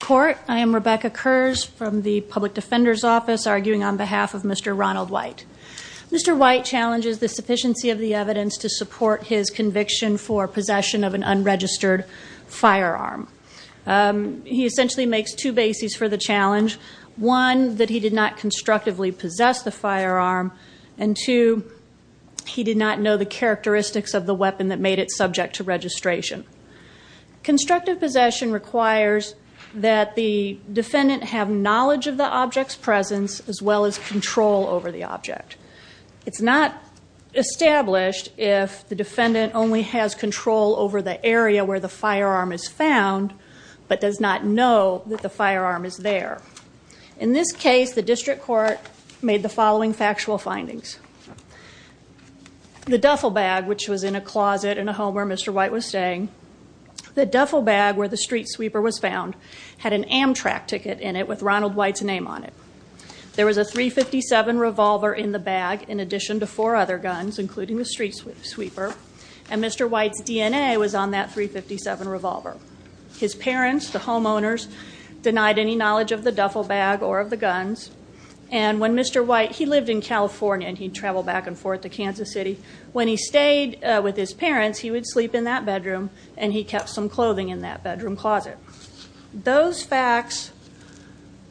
Court, I am Rebecca Kurz from the Public Defender's Office, arguing on behalf of Mr. Ronald White. Mr. White challenges the sufficiency of the evidence to support his conviction for possession of an unregistered firearm. He essentially makes two bases for the challenge. One, that he did not constructively possess the firearm, and two, he did not know the characteristics of the weapon that made it subject to registration. Constructive possession requires that the defendant have knowledge of the object's presence, as well as control over the object. It's not established if the defendant only has control over the area where the firearm is found, but does not know that the firearm is there. In this case, the district court made the following factual findings. The duffel bag, which was in a closet in a home where Mr. White was staying, the duffel bag where the street sweeper was found had an Amtrak ticket in it with Ronald White's name on it. There was a .357 revolver in the bag, in addition to four other guns, including the street sweeper, and Mr. White's DNA was on that .357 revolver. His parents, the homeowners, denied any knowledge of the duffel bag or of the guns, and when Mr. White, he lived in California, and he'd travel back and forth to Kansas City. When he stayed with his parents, he would sleep in that bedroom, and he kept some clothing in that bedroom closet. Those facts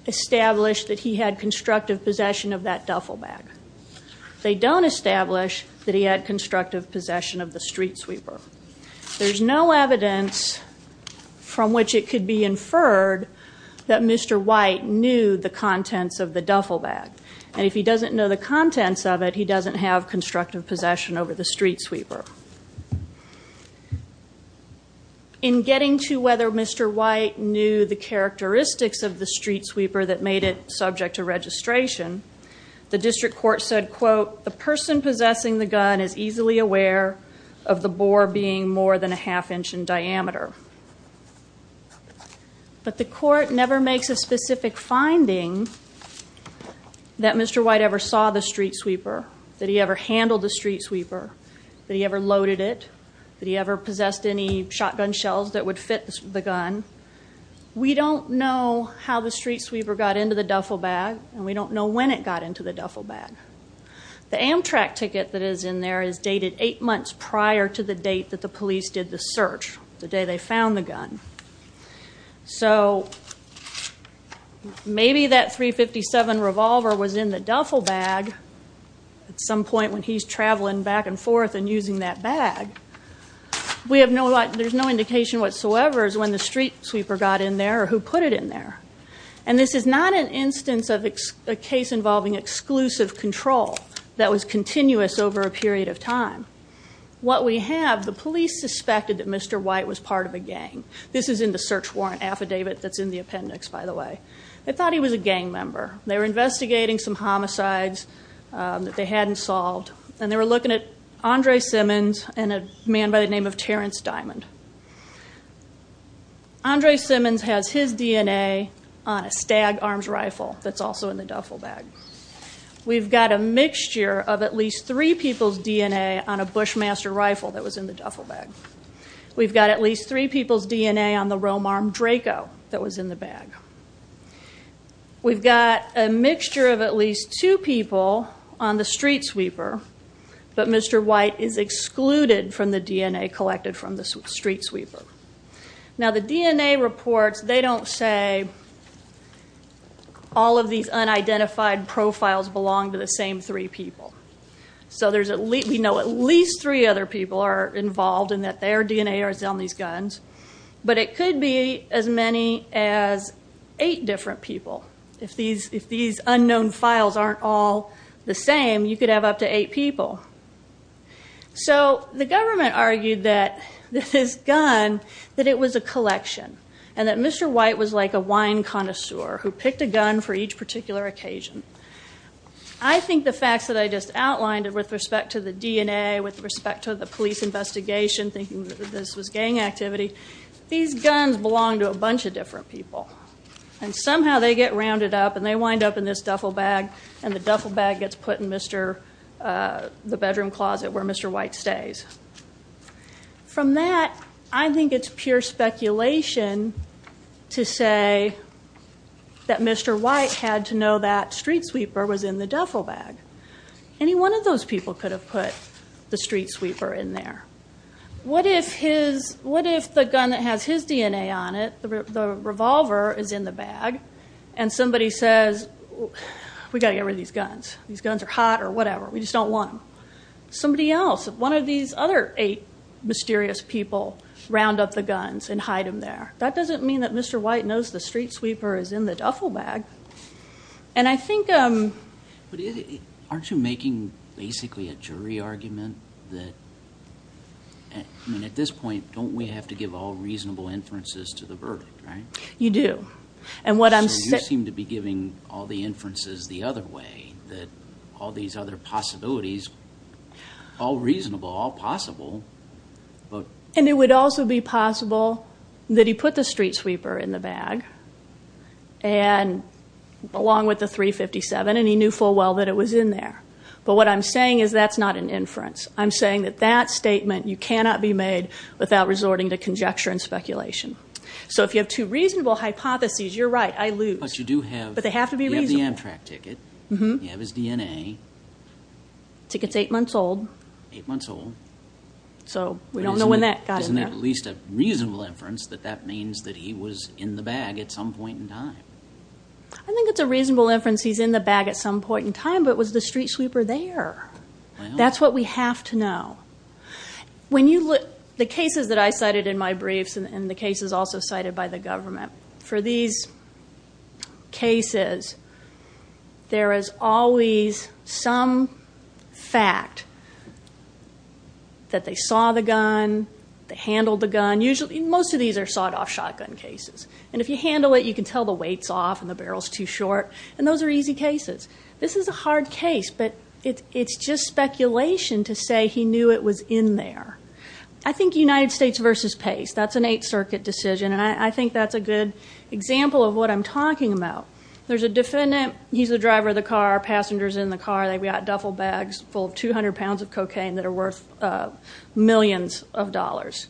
established that he had constructive possession of that duffel bag. They don't establish that he had constructive possession of the street sweeper. There's no evidence from which it could be inferred that Mr. White knew the contents of the duffel bag, and if he doesn't know the contents of it, he doesn't have constructive possession over the street sweeper. In getting to whether Mr. White knew the characteristics of the street sweeper that made it subject to registration, the district court said, quote, the person possessing the gun is easily aware of the bore being more than a half inch in diameter. But the court never makes a specific finding that Mr. White ever saw the street sweeper, that he ever handled the street sweeper, that he ever loaded it, that he ever possessed any shotgun shells that would fit the gun. We don't know how the street sweeper got into the duffel bag, and we don't know when it got into the duffel bag. The Amtrak ticket that is in there is dated eight months prior to the date that the police did the search, the day they found the gun. So, maybe that .357 revolver was in the duffel bag at some point when he's traveling back and forth and using that bag. We have no, there's no indication whatsoever is when the street sweeper got in there or who put it in there. And this is not an instance of a case involving exclusive control that was continuous over a period of time. What we have, the police suspected that Mr. White was part of a gang. This is in the search warrant affidavit that's in the appendix, by the way. They thought he was a gang member. They were investigating some homicides that they hadn't solved, and they were looking at Andre Simmons and a man by the name of Terrence Diamond. Andre Simmons has his DNA on a stag arms rifle that's also in the duffel bag. We've got a mixture of at least three people's DNA on a Bushmaster rifle that was in the duffel bag. We've got at least three people's DNA on the Romearm Draco that was in the bag. We've got a mixture of at least two people on the street sweeper, but Mr. White is excluded from the DNA collected from the street sweeper. Now, the DNA reports, they don't say all of these unidentified profiles belong to the same three people. So there's, we know at least three other people are involved and that their DNA is on these guns, but it could be as many as eight different people. If these unknown files aren't all the same, you could have up to eight people. So the government argued that this gun, that it was a collection, and that Mr. White was like a wine connoisseur who picked a gun for each particular occasion. I think the facts that I just outlined with respect to the DNA, with respect to the police investigation, thinking that this was gang activity, these guns belong to a bunch of different people. And somehow they get rounded up and they wind up in this duffel bag, and the duffel bag gets put in the bedroom closet where Mr. White stays. From that, I think it's pure speculation to say that Mr. White had to know that street sweeper was in the duffel bag. Any one of those people could have put the street sweeper in there. What if the gun that has his DNA on it, the revolver, is in the bag, and somebody says, we gotta get rid of these guns. These guns are hot or whatever. We just don't want them. Somebody else, one of these other eight mysterious people round up the guns and hide them there. That doesn't mean that Mr. White knows the street sweeper is in the duffel bag. And I think... Aren't you making, basically, a jury argument that... I mean, at this point, don't we have to give all reasonable inferences to the verdict, right? You do. And what I'm saying... So you seem to be giving all the inferences the other way, that all these other possibilities, all reasonable, all possible, but... And it would also be possible that he put the street sweeper in the bag, and along with the .357, and he knew full well that it was in there. But what I'm saying is that's not an inference. I'm saying that that statement, you cannot be made without resorting to conjecture and speculation. So if you have two reasonable hypotheses, you're right, I lose. But you do have... But they have to be reasonable. You have the Amtrak ticket, you have his DNA. Ticket's eight months old. Eight months old. So we don't know when that got in there. Isn't it at least a reasonable inference that that means that he was in the bag at some point in time? I think it's a reasonable inference he's in the bag at some point in time, but was the street sweeper there? That's what we have to know. When you look... The cases that I cited in my briefs, and the cases also cited by the government, for these cases, there is always some fact that they saw the gun, they handled the gun. Usually, most of these are sought-off shotgun cases. And if you handle it, you can tell the weight's off and the barrel's too short. And those are easy cases. This is a hard case, but it's just speculation to say he knew it was in there. I think United States versus Pace. That's an Eighth Circuit decision. And I think that's a good example of what I'm talking about. There's a defendant. He's the driver of the car. Passenger's in the car. They've got duffel bags full of 200 pounds of cocaine that are worth millions of dollars.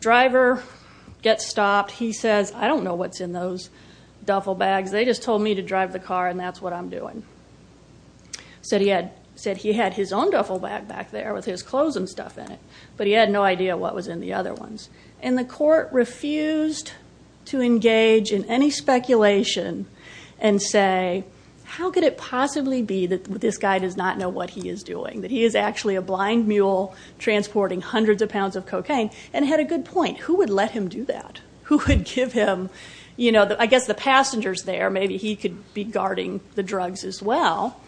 Driver gets stopped. He says, I don't know what's in those duffel bags. They just told me to drive the car and that's what I'm doing. Said he had his own duffel bag back there with his clothes and stuff in it. But he had no idea what was in the other ones. And the court refused to engage in any speculation and say, how could it possibly be that this guy does not know what he is doing? That he is actually a blind mule transporting hundreds of pounds of cocaine? And had a good point. Who would let him do that? Who would give him, I guess the passenger's there. Maybe he could be guarding the drugs as well.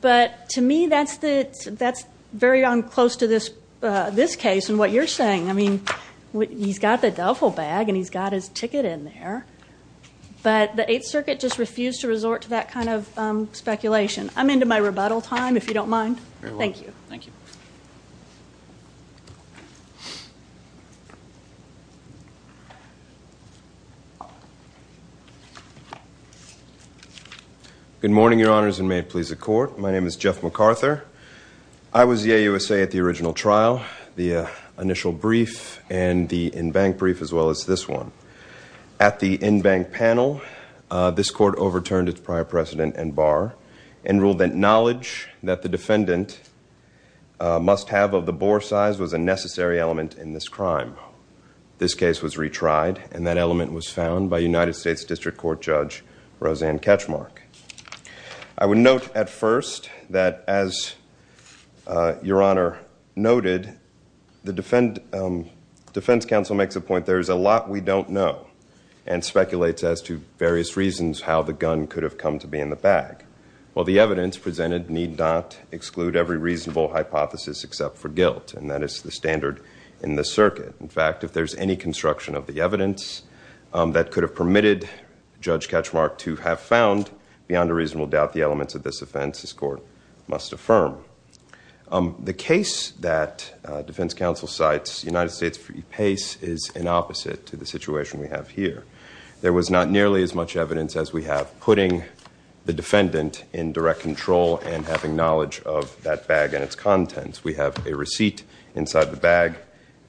But to me, that's very unclose to this case and what you're saying. I mean, he's got the duffel bag and he's got his ticket in there. But the Eighth Circuit just refused to resort to that kind of speculation. I'm into my rebuttal time, if you don't mind. Thank you. Thank you. Good morning, your honors, and may it please the court. My name is Jeff MacArthur. I was the AUSA at the original trial, the initial brief and the in-bank brief as well as this one. At the in-bank panel, this court overturned its prior precedent and bar and ruled that knowledge that the defendant must have of the bore size was a necessary element in this crime. This case was retried and the defendant and that element was found by United States District Court Judge Roseanne Katchmark. I would note at first that as your honor noted, the defense counsel makes a point, there's a lot we don't know and speculates as to various reasons how the gun could have come to be in the bag. Well, the evidence presented need not exclude every reasonable hypothesis except for guilt and that is the standard in the circuit. In fact, if there's any construction of the evidence that could have permitted Judge Katchmark to have found beyond a reasonable doubt the elements of this offense, this court must affirm. The case that defense counsel cites, United States v. Pace is an opposite to the situation we have here. There was not nearly as much evidence as we have putting the defendant in direct control and having knowledge of that bag and its contents. We have a receipt inside the bag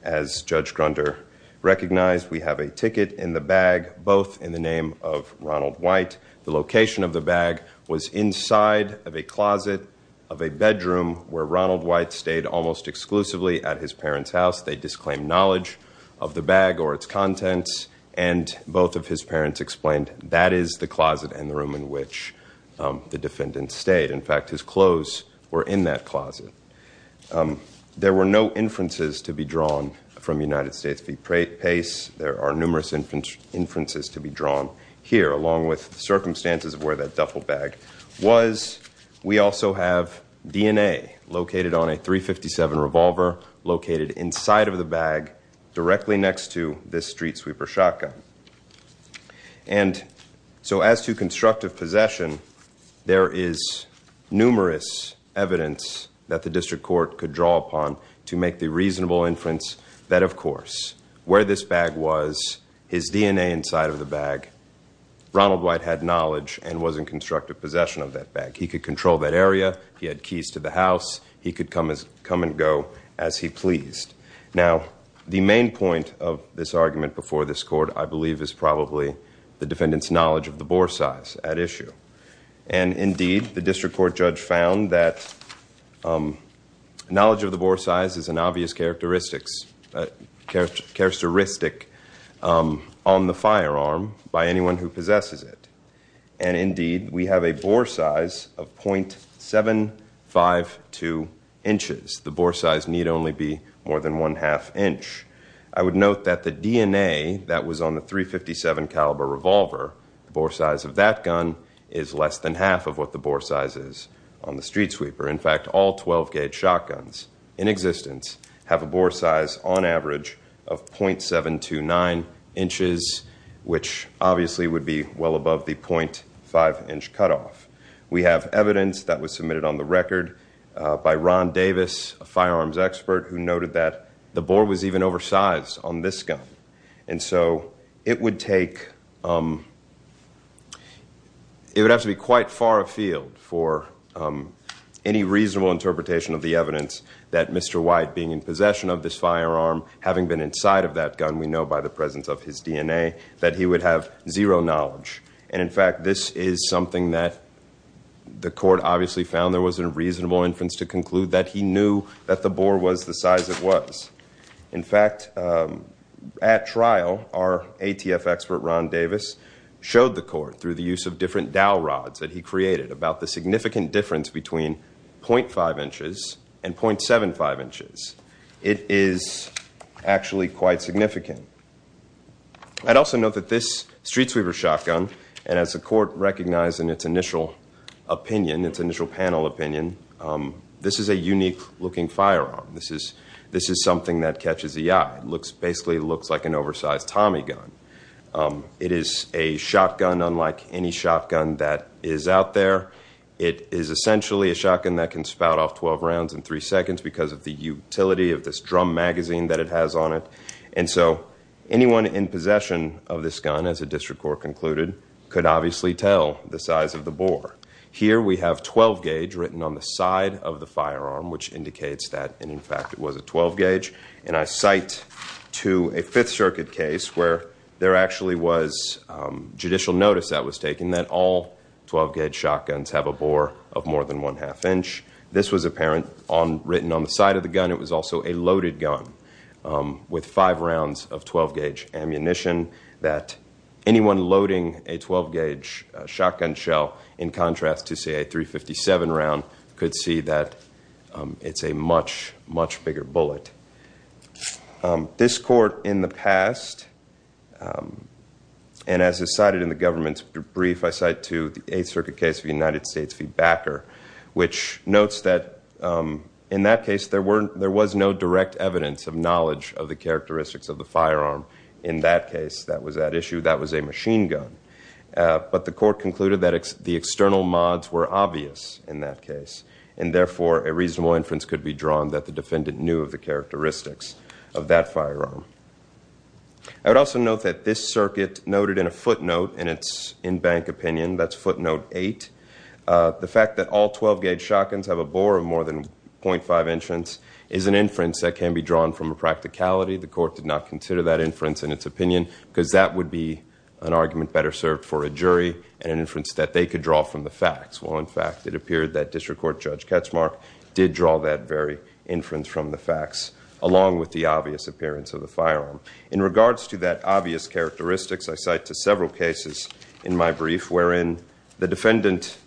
as Judge Grunder recognized. We have a ticket in the bag, both in the name of Ronald White. The location of the bag was inside of a closet of a bedroom where Ronald White stayed almost exclusively at his parents' house. They disclaimed knowledge of the bag or its contents and both of his parents explained that is the closet and the room in which the defendant stayed. In fact, his clothes were in that closet. There were no inferences to be drawn from United States v. Pace. There are numerous inferences to be drawn here along with circumstances of where that duffel bag was. We also have DNA located on a .357 revolver located inside of the bag directly next to this street sweeper shotgun. And so as to constructive possession, there is numerous evidence that the District Court could draw upon to make the reasonable inference that, of course, where this bag was, his DNA inside of the bag, Ronald White had knowledge and was in constructive possession of that bag. He could control that area. He had keys to the house. He could come and go as he pleased. Now, the main point of this argument before this court, I believe, is probably the defendant's knowledge of the bore size at issue. And indeed, the District Court judge found that knowledge of the bore size is an obvious characteristic on the firearm by anyone who possesses it. And indeed, we have a bore size of .752 inches. The bore size need only be more than 1 1⁄2 inch. I would note that the DNA that was on the .357 caliber revolver, the bore size of that gun is less than half of what the bore size is on the Streetsweeper. In fact, all 12-gauge shotguns in existence have a bore size on average of .729 inches, which obviously would be well above the .5 inch cutoff. We have evidence that was submitted on the record by Ron Davis, a firearms expert, who noted that the bore was even oversized on this gun. And so it would take, it would have to be quite far afield for any reasonable interpretation of the evidence that Mr. White, being in possession of this firearm, having been inside of that gun, we know by the presence of his DNA, that he would have zero knowledge. And in fact, this is something that the court obviously found there wasn't a reasonable inference to conclude that he knew that the bore was the size it was. In fact, at trial, our ATF expert, Ron Davis, showed the court, through the use of different dowel rods that he created, about the significant difference between .5 inches and .75 inches. It is actually quite significant. I'd also note that this Streetsweeper shotgun, and as the court recognized in its initial opinion, its initial panel opinion, this is a unique-looking firearm. This is something that catches the eye. It basically looks like an oversized Tommy gun. It is a shotgun, unlike any shotgun that is out there. It is essentially a shotgun that can spout off 12 rounds in three seconds because of the utility of this drum magazine that it has on it. And so anyone in possession of this gun, as the district court concluded, could obviously tell the size of the bore. Here we have 12-gauge written on the side of the firearm, which indicates that, in fact, it was a 12-gauge. And I cite to a Fifth Circuit case where there actually was judicial notice that was taken that all 12-gauge shotguns have a bore of more than 1 1⁄2 inch. This was apparent written on the side of the gun. It was also a loaded gun with five rounds of 12-gauge ammunition that anyone loading a 12-gauge shotgun shell, in contrast to, say, a .357 round, could see that it's a much, much bigger bullet. This court, in the past, and as is cited in the government's brief, I cite to the Eighth Circuit case of the United States v. Backer, which notes that, in that case, there was no direct evidence of knowledge of the characteristics of the firearm. In that case, that was at issue. That was a machine gun. But the court concluded that the external mods were obvious in that case, and therefore, a reasonable inference could be drawn that the defendant knew of the characteristics of that firearm. I would also note that this circuit noted in a footnote, in its in-bank opinion, that's footnote eight, the fact that all 12-gauge shotguns have a bore of more than .5 inches is an inference that can be drawn from a practicality. The court did not consider that inference in its opinion because that would be an argument better served for a jury and an inference that they could draw from the facts, while, in fact, it appeared that District Court Judge Ketchmark did draw that very inference from the facts, along with the obvious appearance of the firearm. In regards to that obvious characteristics, I cite to several cases in my brief wherein the defendant,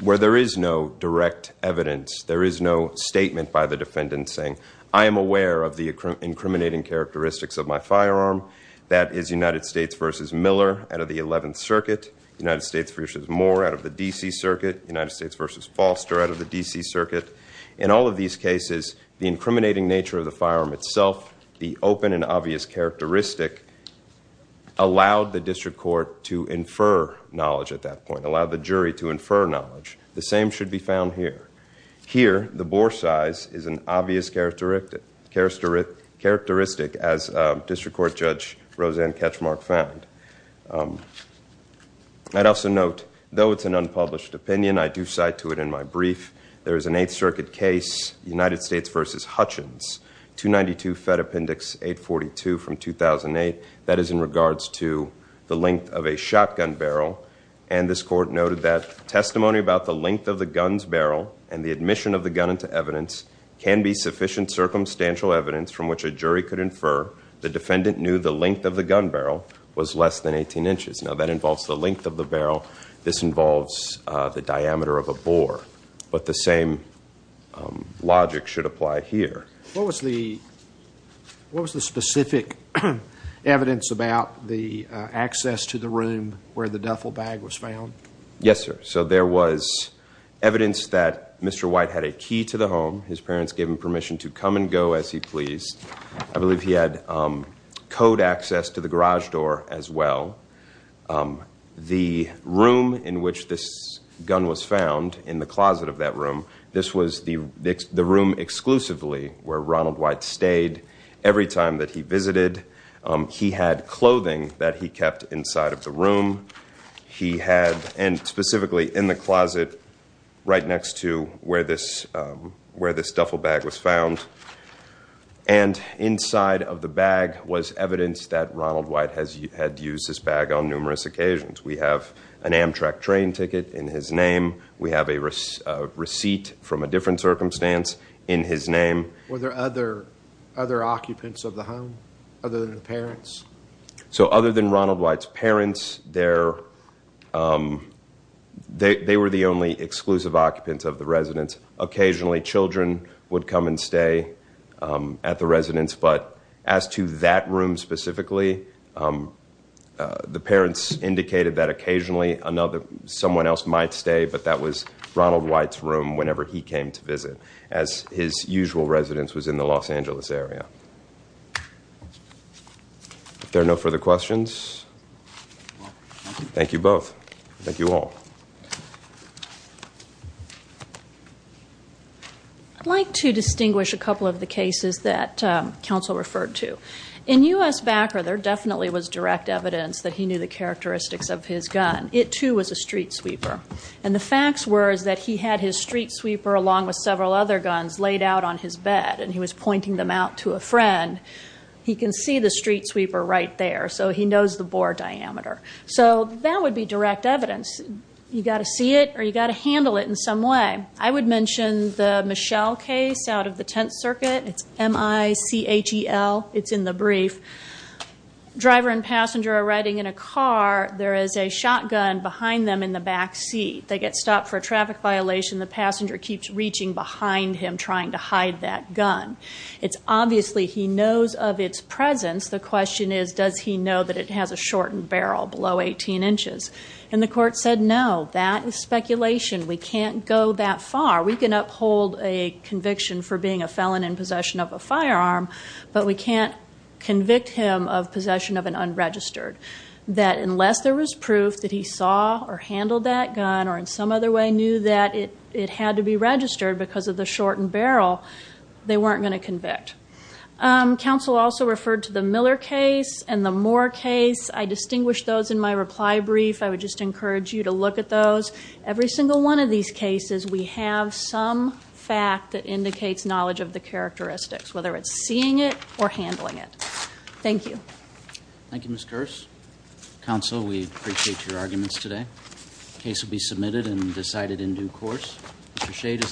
where there is no direct evidence, there is no statement by the defendant saying, I am aware of the incriminating characteristics of my firearm. That is United States v. Miller out of the 11th Circuit, United States v. Moore out of the D.C. Circuit, United States v. Foster out of the D.C. Circuit. In all of these cases, the incriminating nature of the firearm itself, the open and obvious characteristic, allowed the District Court to infer knowledge at that point, allowed the jury to infer knowledge. The same should be found here. Here, the bore size is an obvious characteristic as District Court Judge Roseanne Ketchmark found. I'd also note, though it's an unpublished opinion, I do cite to it in my brief, there is an Eighth Circuit case, United States v. Hutchins, 292 Fed Appendix 842 from 2008, that is in regards to the length of a shotgun barrel. And this court noted that, testimony about the length of the gun's barrel and the admission of the gun into evidence can be sufficient circumstantial evidence from which a jury could infer the defendant knew the length of the gun barrel was less than 18 inches. Now, that involves the length of the barrel. This involves the diameter of a bore. But the same logic should apply here. What was the specific evidence about the access to the room where the duffel bag was found? Yes, sir. So there was evidence that Mr. White had a key to the home. His parents gave him permission to come and go as he pleased. I believe he had code access to the garage door as well. The room in which this gun was found in the closet of that room, this was the room exclusively where Ronald White stayed every time that he visited. He had clothing that he kept inside of the room. He had, and specifically in the closet, right next to where this duffel bag was found. And inside of the bag was evidence that Ronald White had used this bag on numerous occasions. We have an Amtrak train ticket in his name. We have a receipt from a different circumstance in his name. Were there other occupants of the home other than the parents? So other than Ronald White's parents, they were the only exclusive occupants of the residence. Occasionally, children would come and stay at the residence but as to that room specifically, the parents indicated that occasionally someone else might stay, but that was Ronald White's room whenever he came to visit as his usual residence was in the Los Angeles area. There are no further questions? Thank you both. Thank you all. I'd like to distinguish a couple of the cases that counsel referred to. In U.S. Backer, there definitely was direct evidence that he knew the characteristics of his gun. It too was a street sweeper. And the facts were is that he had his street sweeper along with several other guns laid out on his bed and he was pointing them out to a friend. He can see the street sweeper right there so he knows the bore diameter. So that would be direct evidence. You gotta see it or you gotta handle it in some way. I would mention the Michelle case out of the 10th Circuit. It's M-I-C-H-E-L. It's in the brief. Driver and passenger are riding in a car. There is a shotgun behind them in the back seat. They get stopped for a traffic violation. The passenger keeps reaching behind him trying to hide that gun. It's obviously he knows of its presence. The question is does he know that it has a shortened barrel below 18 inches? And the court said, no, that is speculation. We can't go that far. We can uphold a conviction for being a felon in possession of a firearm, but we can't convict him of possession of an unregistered. That unless there was proof that he saw or handled that gun or in some other way knew that it had to be registered because of the shortened barrel, they weren't gonna convict. Counsel also referred to the Miller case and the Moore case. I distinguished those in my reply brief. I would just encourage you to look at those. Every single one of these cases, we have some fact that indicates knowledge of the characteristics, whether it's seeing it or handling it. Thank you. Thank you, Ms. Kersh. Counsel, we appreciate your arguments today. The case will be submitted and decided in due course. Mr. Shade is.